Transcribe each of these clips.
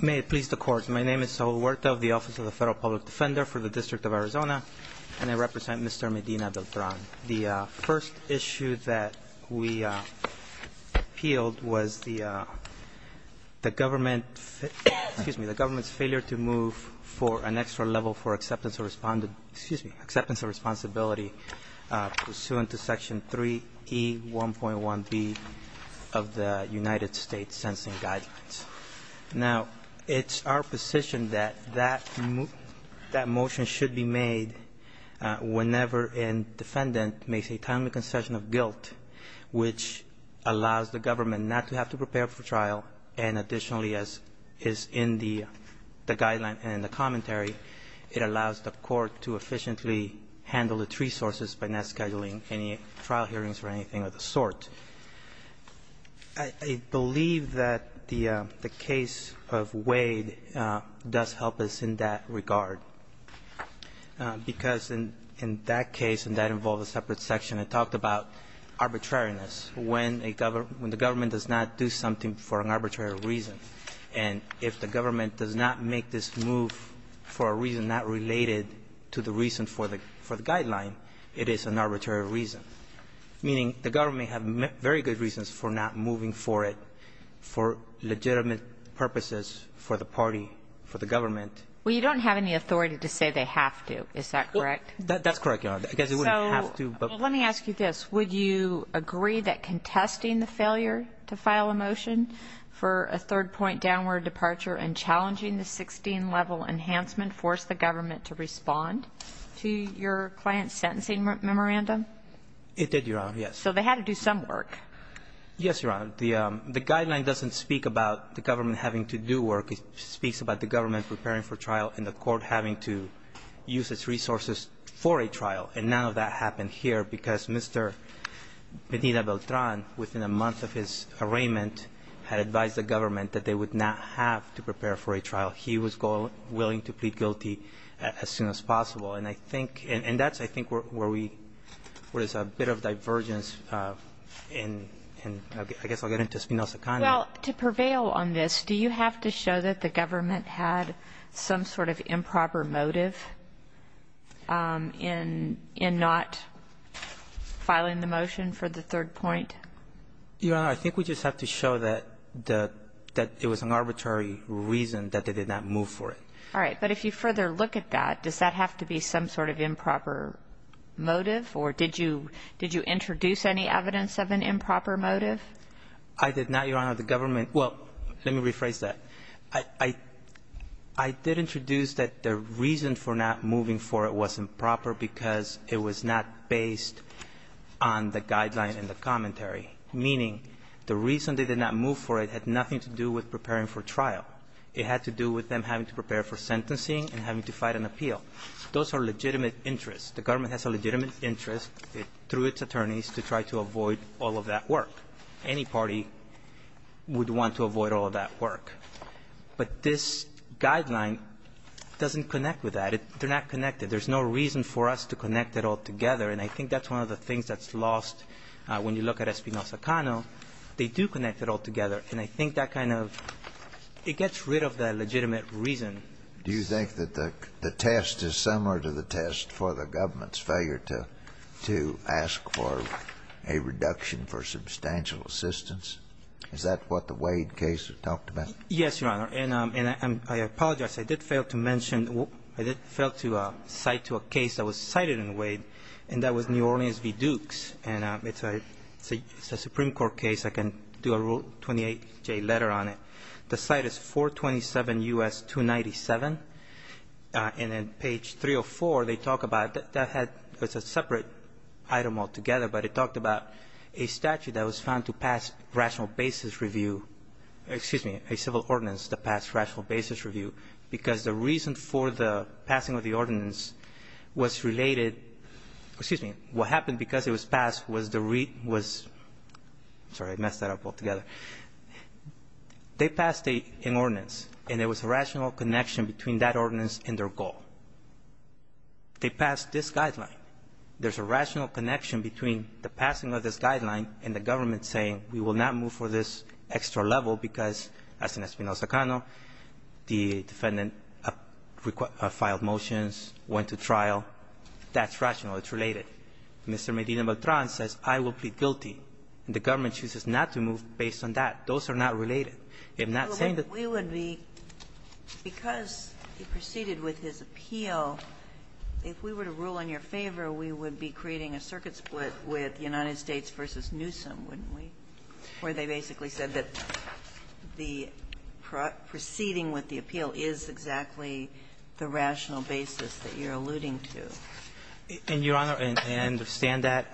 May it please the Court, my name is Saul Huerta of the Office of the Federal Public Defender for the District of Arizona and I represent Mr. Medina-Beltran. The first issue that we appealed was the government's failure to move for an extra level for acceptance of responsibility pursuant to Section 3E1.1B of the United States Census Guidelines. Now it's our position that that motion should be made whenever a defendant makes a timely concession of guilt which allows the government not to have to prepare for trial and additionally, as is in the guideline and in the commentary, it allows the court to efficiently handle its resources by not scheduling any trial hearings or anything of the sort. I believe that the case of Wade does help us in that regard, because in that case and that involved a separate section, it talked about arbitrariness. When the government does not do something for an arbitrary reason and if the government does not make this move for a reason not related to the reason for the guideline, it is an arbitrary reason, meaning the government have very good reasons for not moving for it for legitimate purposes for the party, for the government. Well, you don't have any authority to say they have to, is that correct? That's correct, Your Honor. I guess it wouldn't have to, but Well, let me ask you this. Would you agree that contesting the failure to file a motion for a third-point downward departure and challenging the 16-level enhancement forced the government to respond to your client's sentencing memorandum? It did, Your Honor, yes. So they had to do some work. Yes, Your Honor. The guideline doesn't speak about the government having to do work. It speaks about the government preparing for trial and the court having to use its resources for a trial, and none of that happened here because Mr. Benita Beltran, within a month of his arraignment, had advised the government that they would not have to prepare for a trial. He was willing to plead guilty as soon as possible, and that's, I think, where there's a bit of divergence, and I guess I'll get into Spinoza-Connery. Well, to prevail on this, do you have to show that the government had some sort of improper motive in not filing the motion for the third point? Your Honor, I think we just have to show that it was an arbitrary reason that they did not move for it. All right. But if you further look at that, does that have to be some sort of improper motive, or did you introduce any evidence of an improper motive? I did not, Your Honor. The government — well, let me rephrase that. I did introduce that the reason for not moving for it was improper because it was not based on the guideline in the commentary, meaning the reason they did not move for it had nothing to do with preparing for trial. It had to do with them having to prepare for sentencing and having to fight an appeal. Those are legitimate interests. The government has a legitimate interest through its attorneys to try to avoid all of that work. Any party would want to avoid all of that work. But this guideline doesn't connect with that. They're not connected. There's no reason for us to connect it all together. And I think that's one of the things that's lost when you look at Espinosa-Cano. They do connect it all together, and I think that kind of — it gets rid of that legitimate reason. Do you think that the test is similar to the test for the government's failure to ask for a reduction for substantial assistance? Is that what the Wade case talked about? Yes, Your Honor. And I apologize. I did fail to mention — I did fail to cite to a case that was cited in Wade, and that was New Orleans v. Dukes. And it's a Supreme Court case. I can do a Rule 28J letter on it. The site is 427 U.S. 297. And on page 304, they talk about — that had — it's a separate item altogether, but it talked about a statute that was found to pass rational basis review — excuse me, a civil ordinance that passed rational basis review, because the reason for the passing of the ordinance was related — excuse me, what happened because it was passed was the — sorry, I messed that up altogether. They passed an ordinance, and there was a rational connection between that ordinance and their goal. They passed this guideline. There's a rational connection between the passing of this guideline and the government saying we will not move for this extra level because, as in Espinal Zacano, the defendant filed motions, went to trial. That's rational. It's related. Mr. Medina Beltran says I will plead guilty, and the government chooses not to move based on that. Those are not related. I'm not saying that — But we would be — because he proceeded with his appeal, if we were to rule in your favor, we would be creating a circuit split with United States v. Newsom, wouldn't we, where they basically said that the proceeding with the appeal is exactly the rational basis that you're alluding to? And, Your Honor, I understand that.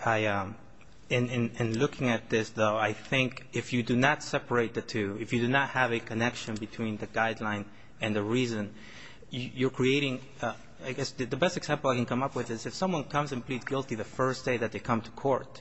In looking at this, though, I think if you do not separate the two, if you do not have a connection between the guideline and the reason, you're creating — I guess the best example I can come up with is if someone comes and pleads guilty the first day that they come to court,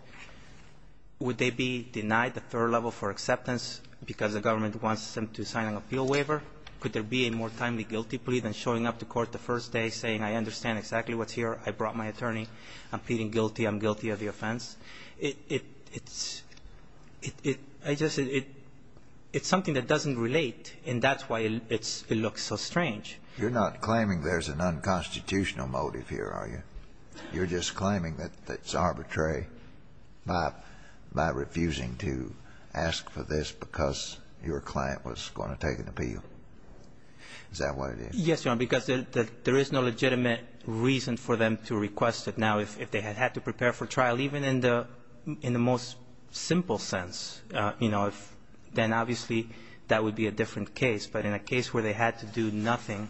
would they be denied the third level for acceptance because the government wants them to sign an appeal waiver? Could there be a more timely guilty plea than showing up to court the first day saying I understand exactly what's here, I brought my attorney, I'm pleading guilty, I'm guilty of the offense? It's — I just — it's something that doesn't relate, and that's why it looks so strange. You're not claiming there's an unconstitutional motive here, are you? You're just claiming that it's arbitrary by refusing to ask for this because your client was going to take an appeal. Is that what it is? Yes, Your Honor, because there is no legitimate reason for them to request it now if they had had to prepare for trial, even in the most simple sense, you know, if — then obviously that would be a different case, but in a case where they had to do nothing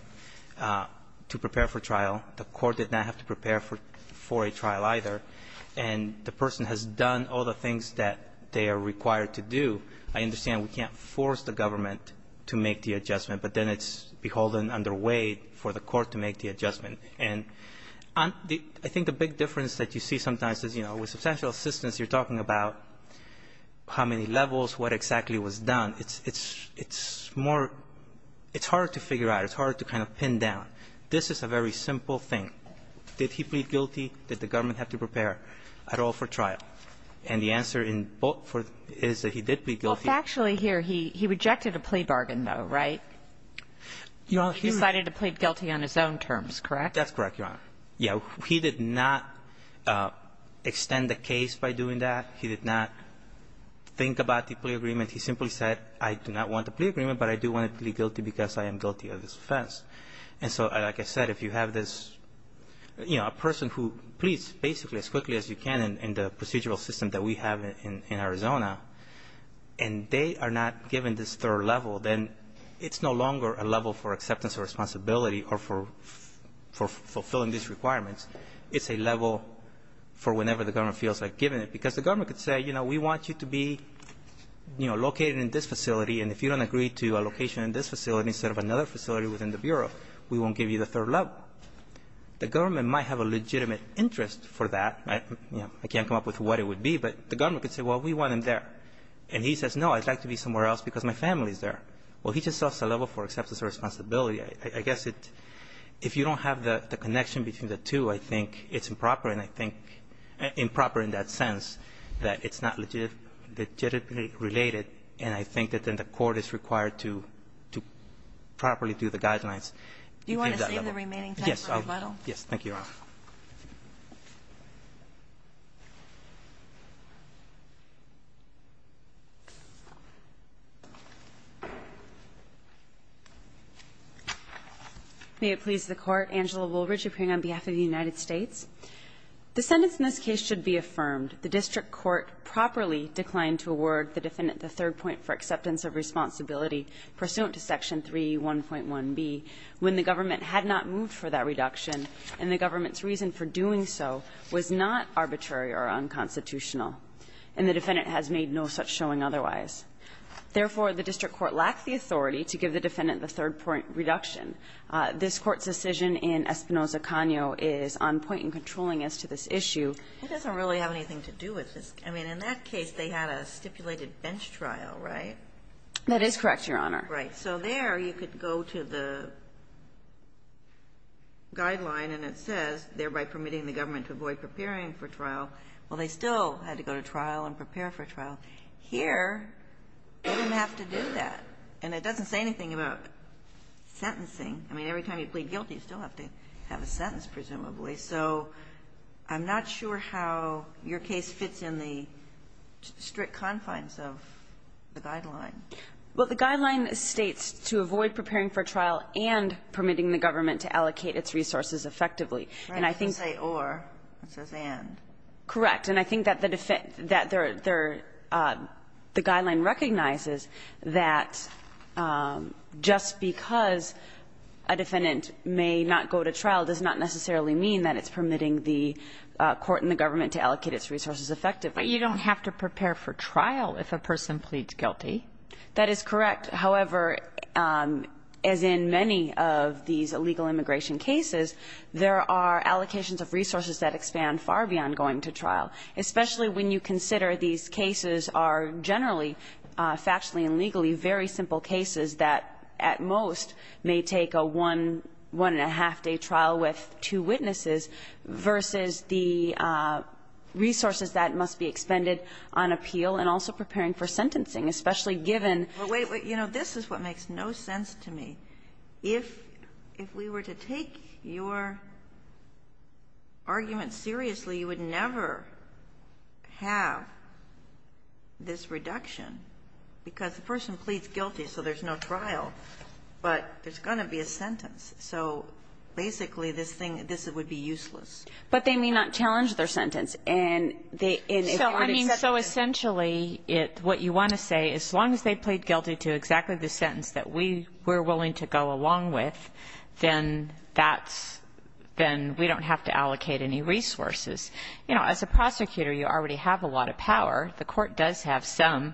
to prepare for trial, the court did not have to prepare for a trial either, and the person has done all the things that they are required to do, I understand we can't force the government to make the adjustment, but then it's beholden, underweight for the court to make the adjustment. And I think the big difference that you see sometimes is, you know, with substantial assistance, you're talking about how many levels, what exactly was done. It's more — it's harder to figure out. It's harder to kind of pin down. This is a very simple thing. Did he plead guilty? Did the government have to prepare at all for trial? And the answer in both is that he did plead guilty. Well, factually here, he rejected a plea bargain, though, right? He decided to plead guilty on his own terms, correct? That's correct, Your Honor. Yeah, he did not extend the case by doing that. He did not think about the plea agreement. He simply said, I do not want the plea agreement, but I do want to plead guilty because I am guilty of this offense. And so, like I said, if you have this, you know, a person who pleads basically as quickly as you can in the procedural system that we have in Arizona, and they are not given this third level, then it's no longer a level for acceptance or responsibility or for fulfilling these requirements. It's a level for whenever the government feels like giving it because the government could say, you know, we want you to be, you know, located in this facility, and if you don't agree to a location in this facility instead of another facility within the Bureau, we won't give you the third level. The government might have a legitimate interest for that. I can't come up with what it would be, but the government could say, well, we want him there. And he says, no, I'd like to be somewhere else because my family is there. Well, he just says it's a level for acceptance or responsibility. I guess if you don't have the connection between the two, I think it's improper, and I think improper in that sense that it's not legitimately related, and I think that then the court is required to properly do the guidelines. Do you want to save the remaining time for rebuttal? Thank you, Your Honor. May it please the Court. Angela Woolridge appearing on behalf of the United States. The sentence in this case should be affirmed. The district court properly declined to award the defendant the third point for acceptance of responsibility pursuant to Section 3.1.1b when the government had not moved for that reduction. And the government's reason for doing so was not arbitrary or unconstitutional. And the defendant has made no such showing otherwise. Therefore, the district court lacked the authority to give the defendant the third point reduction. This Court's decision in Espinoza-Cano is on point in controlling as to this issue. It doesn't really have anything to do with this. I mean, in that case, they had a stipulated bench trial, right? That is correct, Your Honor. Right. So there you could go to the guideline and it says, thereby permitting the government to avoid preparing for trial. Well, they still had to go to trial and prepare for trial. Here, they didn't have to do that. And it doesn't say anything about sentencing. I mean, every time you plead guilty, you still have to have a sentence, presumably. So I'm not sure how your case fits in the strict confines of the guideline. Well, the guideline states to avoid preparing for trial and permitting the government to allocate its resources effectively. And I think that the defendant that the guideline recognizes that just because a defendant may not go to trial does not necessarily mean that it's permitting the court and the government to allocate its resources effectively. But you don't have to prepare for trial if a person pleads guilty. That is correct. However, as in many of these illegal immigration cases, there are allocations of resources that expand far beyond going to trial, especially when you consider these cases are generally, factually and legally, very simple cases that at most may take a one-and-a-half-day trial with two witnesses versus the resources that must be expended on appeal, and also preparing for sentencing, especially given the fact that the government has to allocate its resources effectively. If we were to take your argument seriously, you would never have this reduction, because the person pleads guilty, so there's no trial, but there's going to be a sentence. So basically, this thing, this would be useless. But they may not challenge their sentence. So essentially, what you want to say is as long as they plead guilty to exactly the sentence that we're willing to go along with, then we don't have to allocate any resources. As a prosecutor, you already have a lot of power. The court does have some.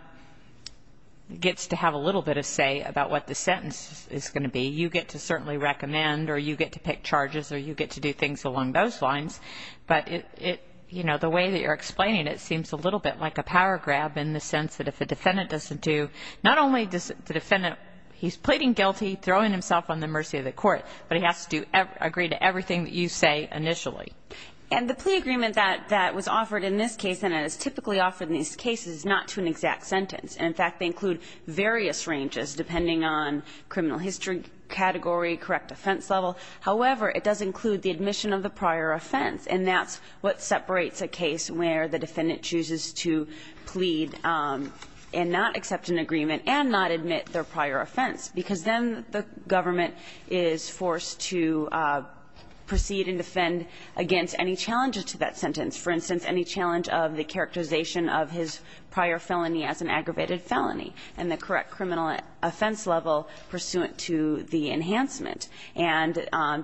It gets to have a little bit of say about what the sentence is going to be. You get to certainly recommend, or you get to pick charges, or you get to do things along those lines. But the way that you're explaining it seems a little bit like a power grab in the sense that if a defendant doesn't do, not only does the defendant, he's pleading guilty, throwing himself on the mercy of the court, but he has to agree to everything that you say initially. And the plea agreement that was offered in this case, and it is typically offered in these cases, is not to an exact sentence. In fact, they include various ranges, depending on criminal history category, correct offense level. However, it does include the admission of the prior offense, and that's what separates a case where the defendant chooses to plead and not accept an agreement and not admit their prior offense, because then the government is forced to proceed and defend against any challenge to that sentence, for instance, any challenge of the characterization of his prior felony as an aggravated felony and the correct criminal offense level pursuant to the enhancement. And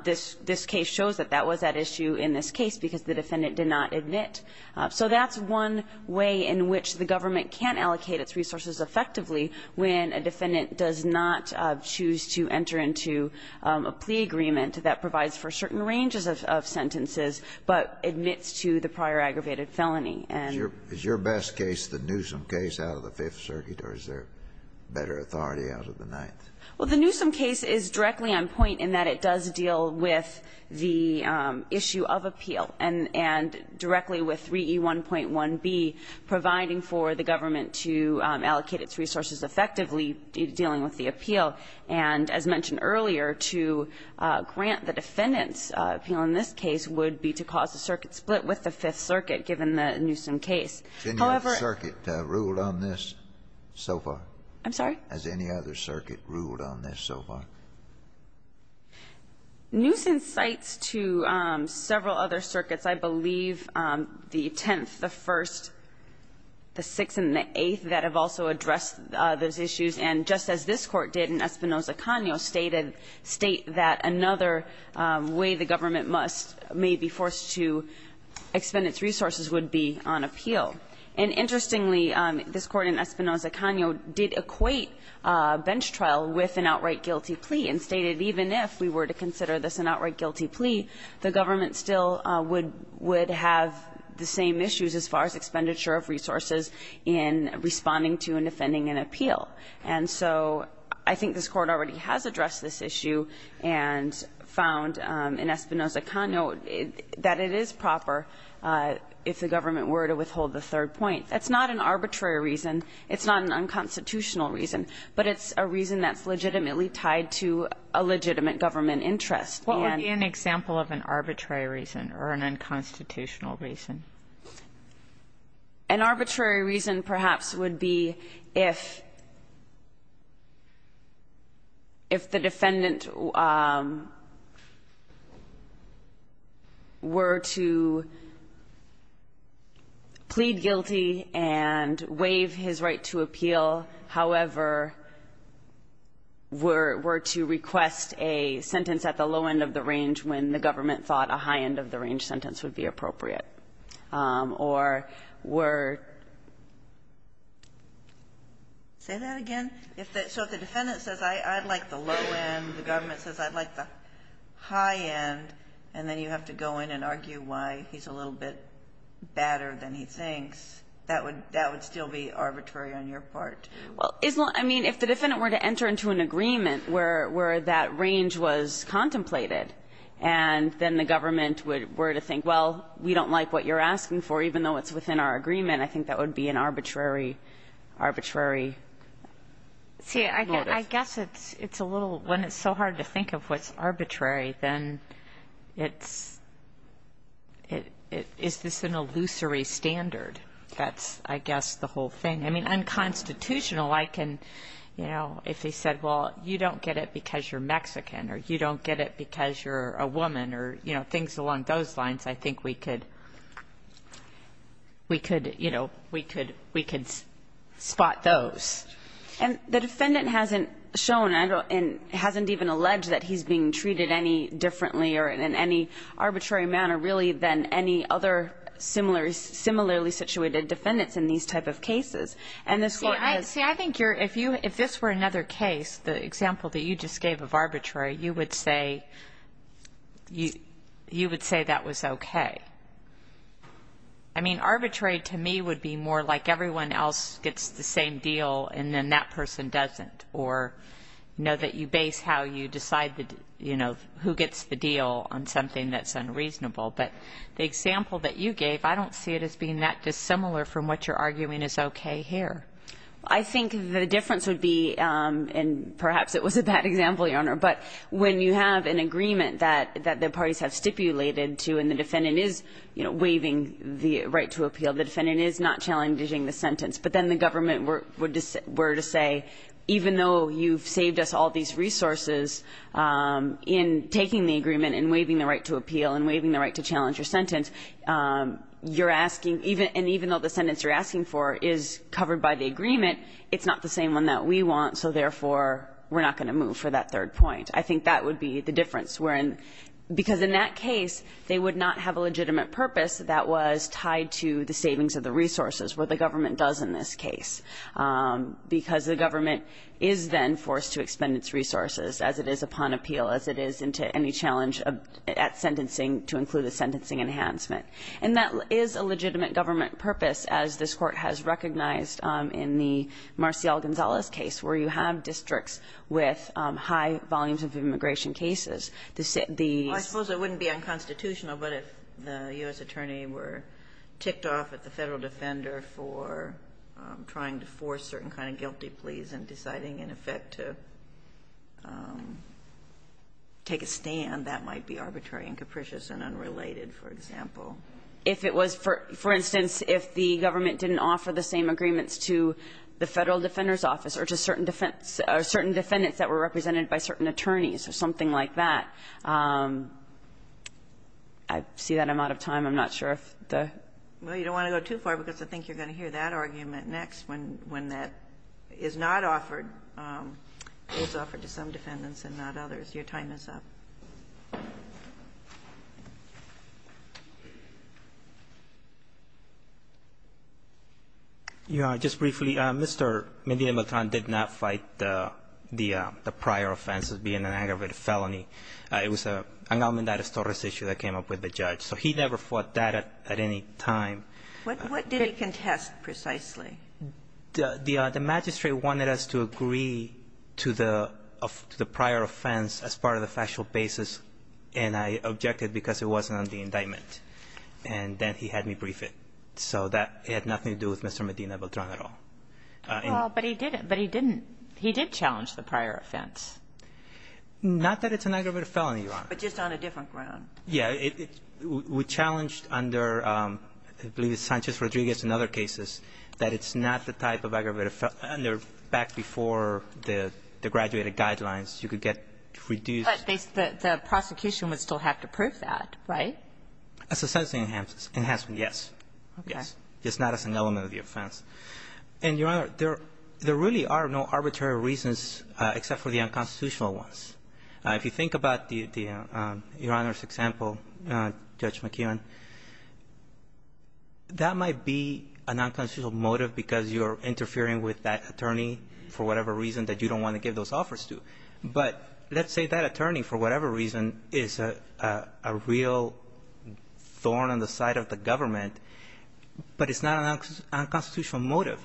this case shows that that was at issue in this case, because the defendant did not admit. So that's one way in which the government can allocate its resources effectively when a defendant does not choose to enter into a plea agreement that provides for certain ranges of sentences, but admits to the prior aggravated felony. And your best case, the Newsom case out of the Fifth Circuit, or is there better authority out of the Ninth? Well, the Newsom case is directly on point in that it does deal with the issue of appeal, and directly with 3E1.1b, providing for the government to allocate its resources effectively dealing with the appeal, and as mentioned earlier, to grant the defendant's appeal in this case would be to cause a circuit split with the Fifth Circuit given the Newsom case. However the circuit ruled on this so far? I'm sorry? Has any other circuit ruled on this so far? Newsom cites to several other circuits, I believe the Tenth, the First, the Sixth, and the Eighth, that have also addressed those issues, and just as this Court did in Espinoza-Cano stated, state that another way the government must, may be forced to expend its resources would be on appeal. And interestingly, this Court in Espinoza-Cano did equate bench trial with an outright guilty plea, and stated even if we were to consider this an outright guilty plea, the government still would have the same issues as far as expenditure of resources in responding to and defending an appeal. And so I think this Court already has addressed this issue and found in Espinoza-Cano that it is proper if the government were to withhold the third point. That's not an arbitrary reason. It's not an unconstitutional reason. But it's a reason that's legitimately tied to a legitimate government interest. And the court's... What would be an example of an arbitrary reason or an unconstitutional reason? If the defendant were to plead guilty and waive his right to appeal, however, were to request a sentence at the low end of the range when the government thought a high end of the range sentence would be appropriate, or were... Say that again? So if the defendant says, I'd like the low end, the government says, I'd like the high end, and then you have to go in and argue why he's a little bit badder than he thinks, that would still be arbitrary on your part. Well, isn't... I mean, if the defendant were to enter into an agreement where that range was contemplated and then the government were to think, well, we don't like what you're asking for, even though it's within our agreement, I think that would be an arbitrary motive. See, I guess it's a little... When it's so hard to think of what's arbitrary, then it's... Is this an illusory standard? That's, I guess, the whole thing. I mean, unconstitutional, I can... You know, if he said, well, you don't get it because you're Mexican or you don't get it because you're a woman or, you know, things along those lines, I think we could, you know, we could spot those. And the defendant hasn't shown and hasn't even alleged that he's being treated any differently or in any arbitrary manner, really, than any other similarly situated defendants in these type of cases. See, I think if this were another case, the example that you just gave of arbitrary, you would say that was okay. I mean, arbitrary to me would be more like everyone else gets the same deal and then that person doesn't, or, you know, that you base how you decide, you know, who gets the deal on something that's unreasonable. But the example that you gave, I don't see it as being that dissimilar from what you're arguing is okay here. I think the difference would be, and perhaps it was a bad example, Your Honor, but when you have an agreement that the parties have stipulated to and the defendant is, you know, waiving the right to appeal, the defendant is not challenging the sentence, but then the government were to say, even though you've saved us all these resources in taking the agreement and waiving the right to appeal and waiving the right to challenge your sentence, you're asking, and even though the sentence you're asking for is covered by the agreement, it's not the same one that we want, so therefore we're not going to move for that third point. I think that would be the difference, because in that case they would not have a legitimate purpose that was tied to the savings of the resources, what the government does in this case, because the government is then forced to expend its resources as it is upon appeal, as it is into any challenge at sentencing to include a sentencing enhancement. And that is a legitimate government purpose, as this Court has recognized in the Marcial Gonzales case, where you have districts with high volumes of immigration cases. The set the ---- I suppose it wouldn't be unconstitutional, but if the U.S. attorney were ticked off at the Federal defender for trying to force certain kind of guilty pleas and deciding in effect to take a stand, that might be arbitrary and capricious and unrelated, for example. If it was for ---- for instance, if the government didn't offer the same agreements to the Federal Defender's Office or to certain defendants that were represented by certain attorneys or something like that, I see that I'm out of time. I'm not sure if the ---- Well, you don't want to go too far, because I think you're going to hear that argument next when that is not offered, is offered to some defendants and not others. Your time is up. Just briefly, Mr. Medina-Beltran did not fight the prior offense as being an aggravated felony. It was an Almendarez-Torres issue that came up with the judge. So he never fought that at any time. What did he contest, precisely? The magistrate wanted us to agree to the prior offense as part of the factual basis, and I objected because it wasn't on the indictment, and then he had me brief it. So that had nothing to do with Mr. Medina-Beltran at all. Well, but he didn't. But he didn't. He did challenge the prior offense. Not that it's an aggravated felony, Your Honor. But just on a different ground. Yeah. We challenged under, I believe it's Sanchez-Rodriguez and other cases, that it's not the type of aggravated felony under back before the graduated guidelines. You could get reduced. But the prosecution would still have to prove that, right? As a sentencing enhancement, yes. Okay. Yes. Just not as an element of the offense. And, Your Honor, there really are no arbitrary reasons except for the unconstitutional ones. If you think about the, Your Honor's example, Judge McKeon, that might be a nonconstitutional motive because you're interfering with that attorney for whatever reason that you don't want to give those offers to. But let's say that attorney, for whatever reason, is a real thorn in the side of the government, but it's not an unconstitutional motive.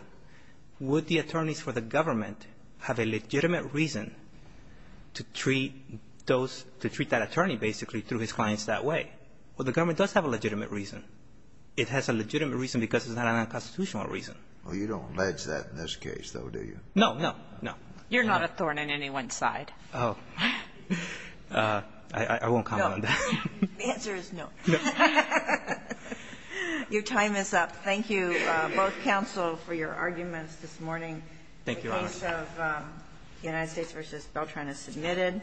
Would the attorneys for the government have a legitimate reason to treat those, to treat that attorney basically through his clients that way? Well, the government does have a legitimate reason. It has a legitimate reason because it's not an unconstitutional reason. Well, you don't allege that in this case, though, do you? No. No. No. You're not a thorn in anyone's side. Oh. I won't comment on that. No. The answer is no. No. Your time is up. Thank you, both counsel, for your arguments this morning. Thank you, Your Honor. The case of the United States v. Beltran is submitted.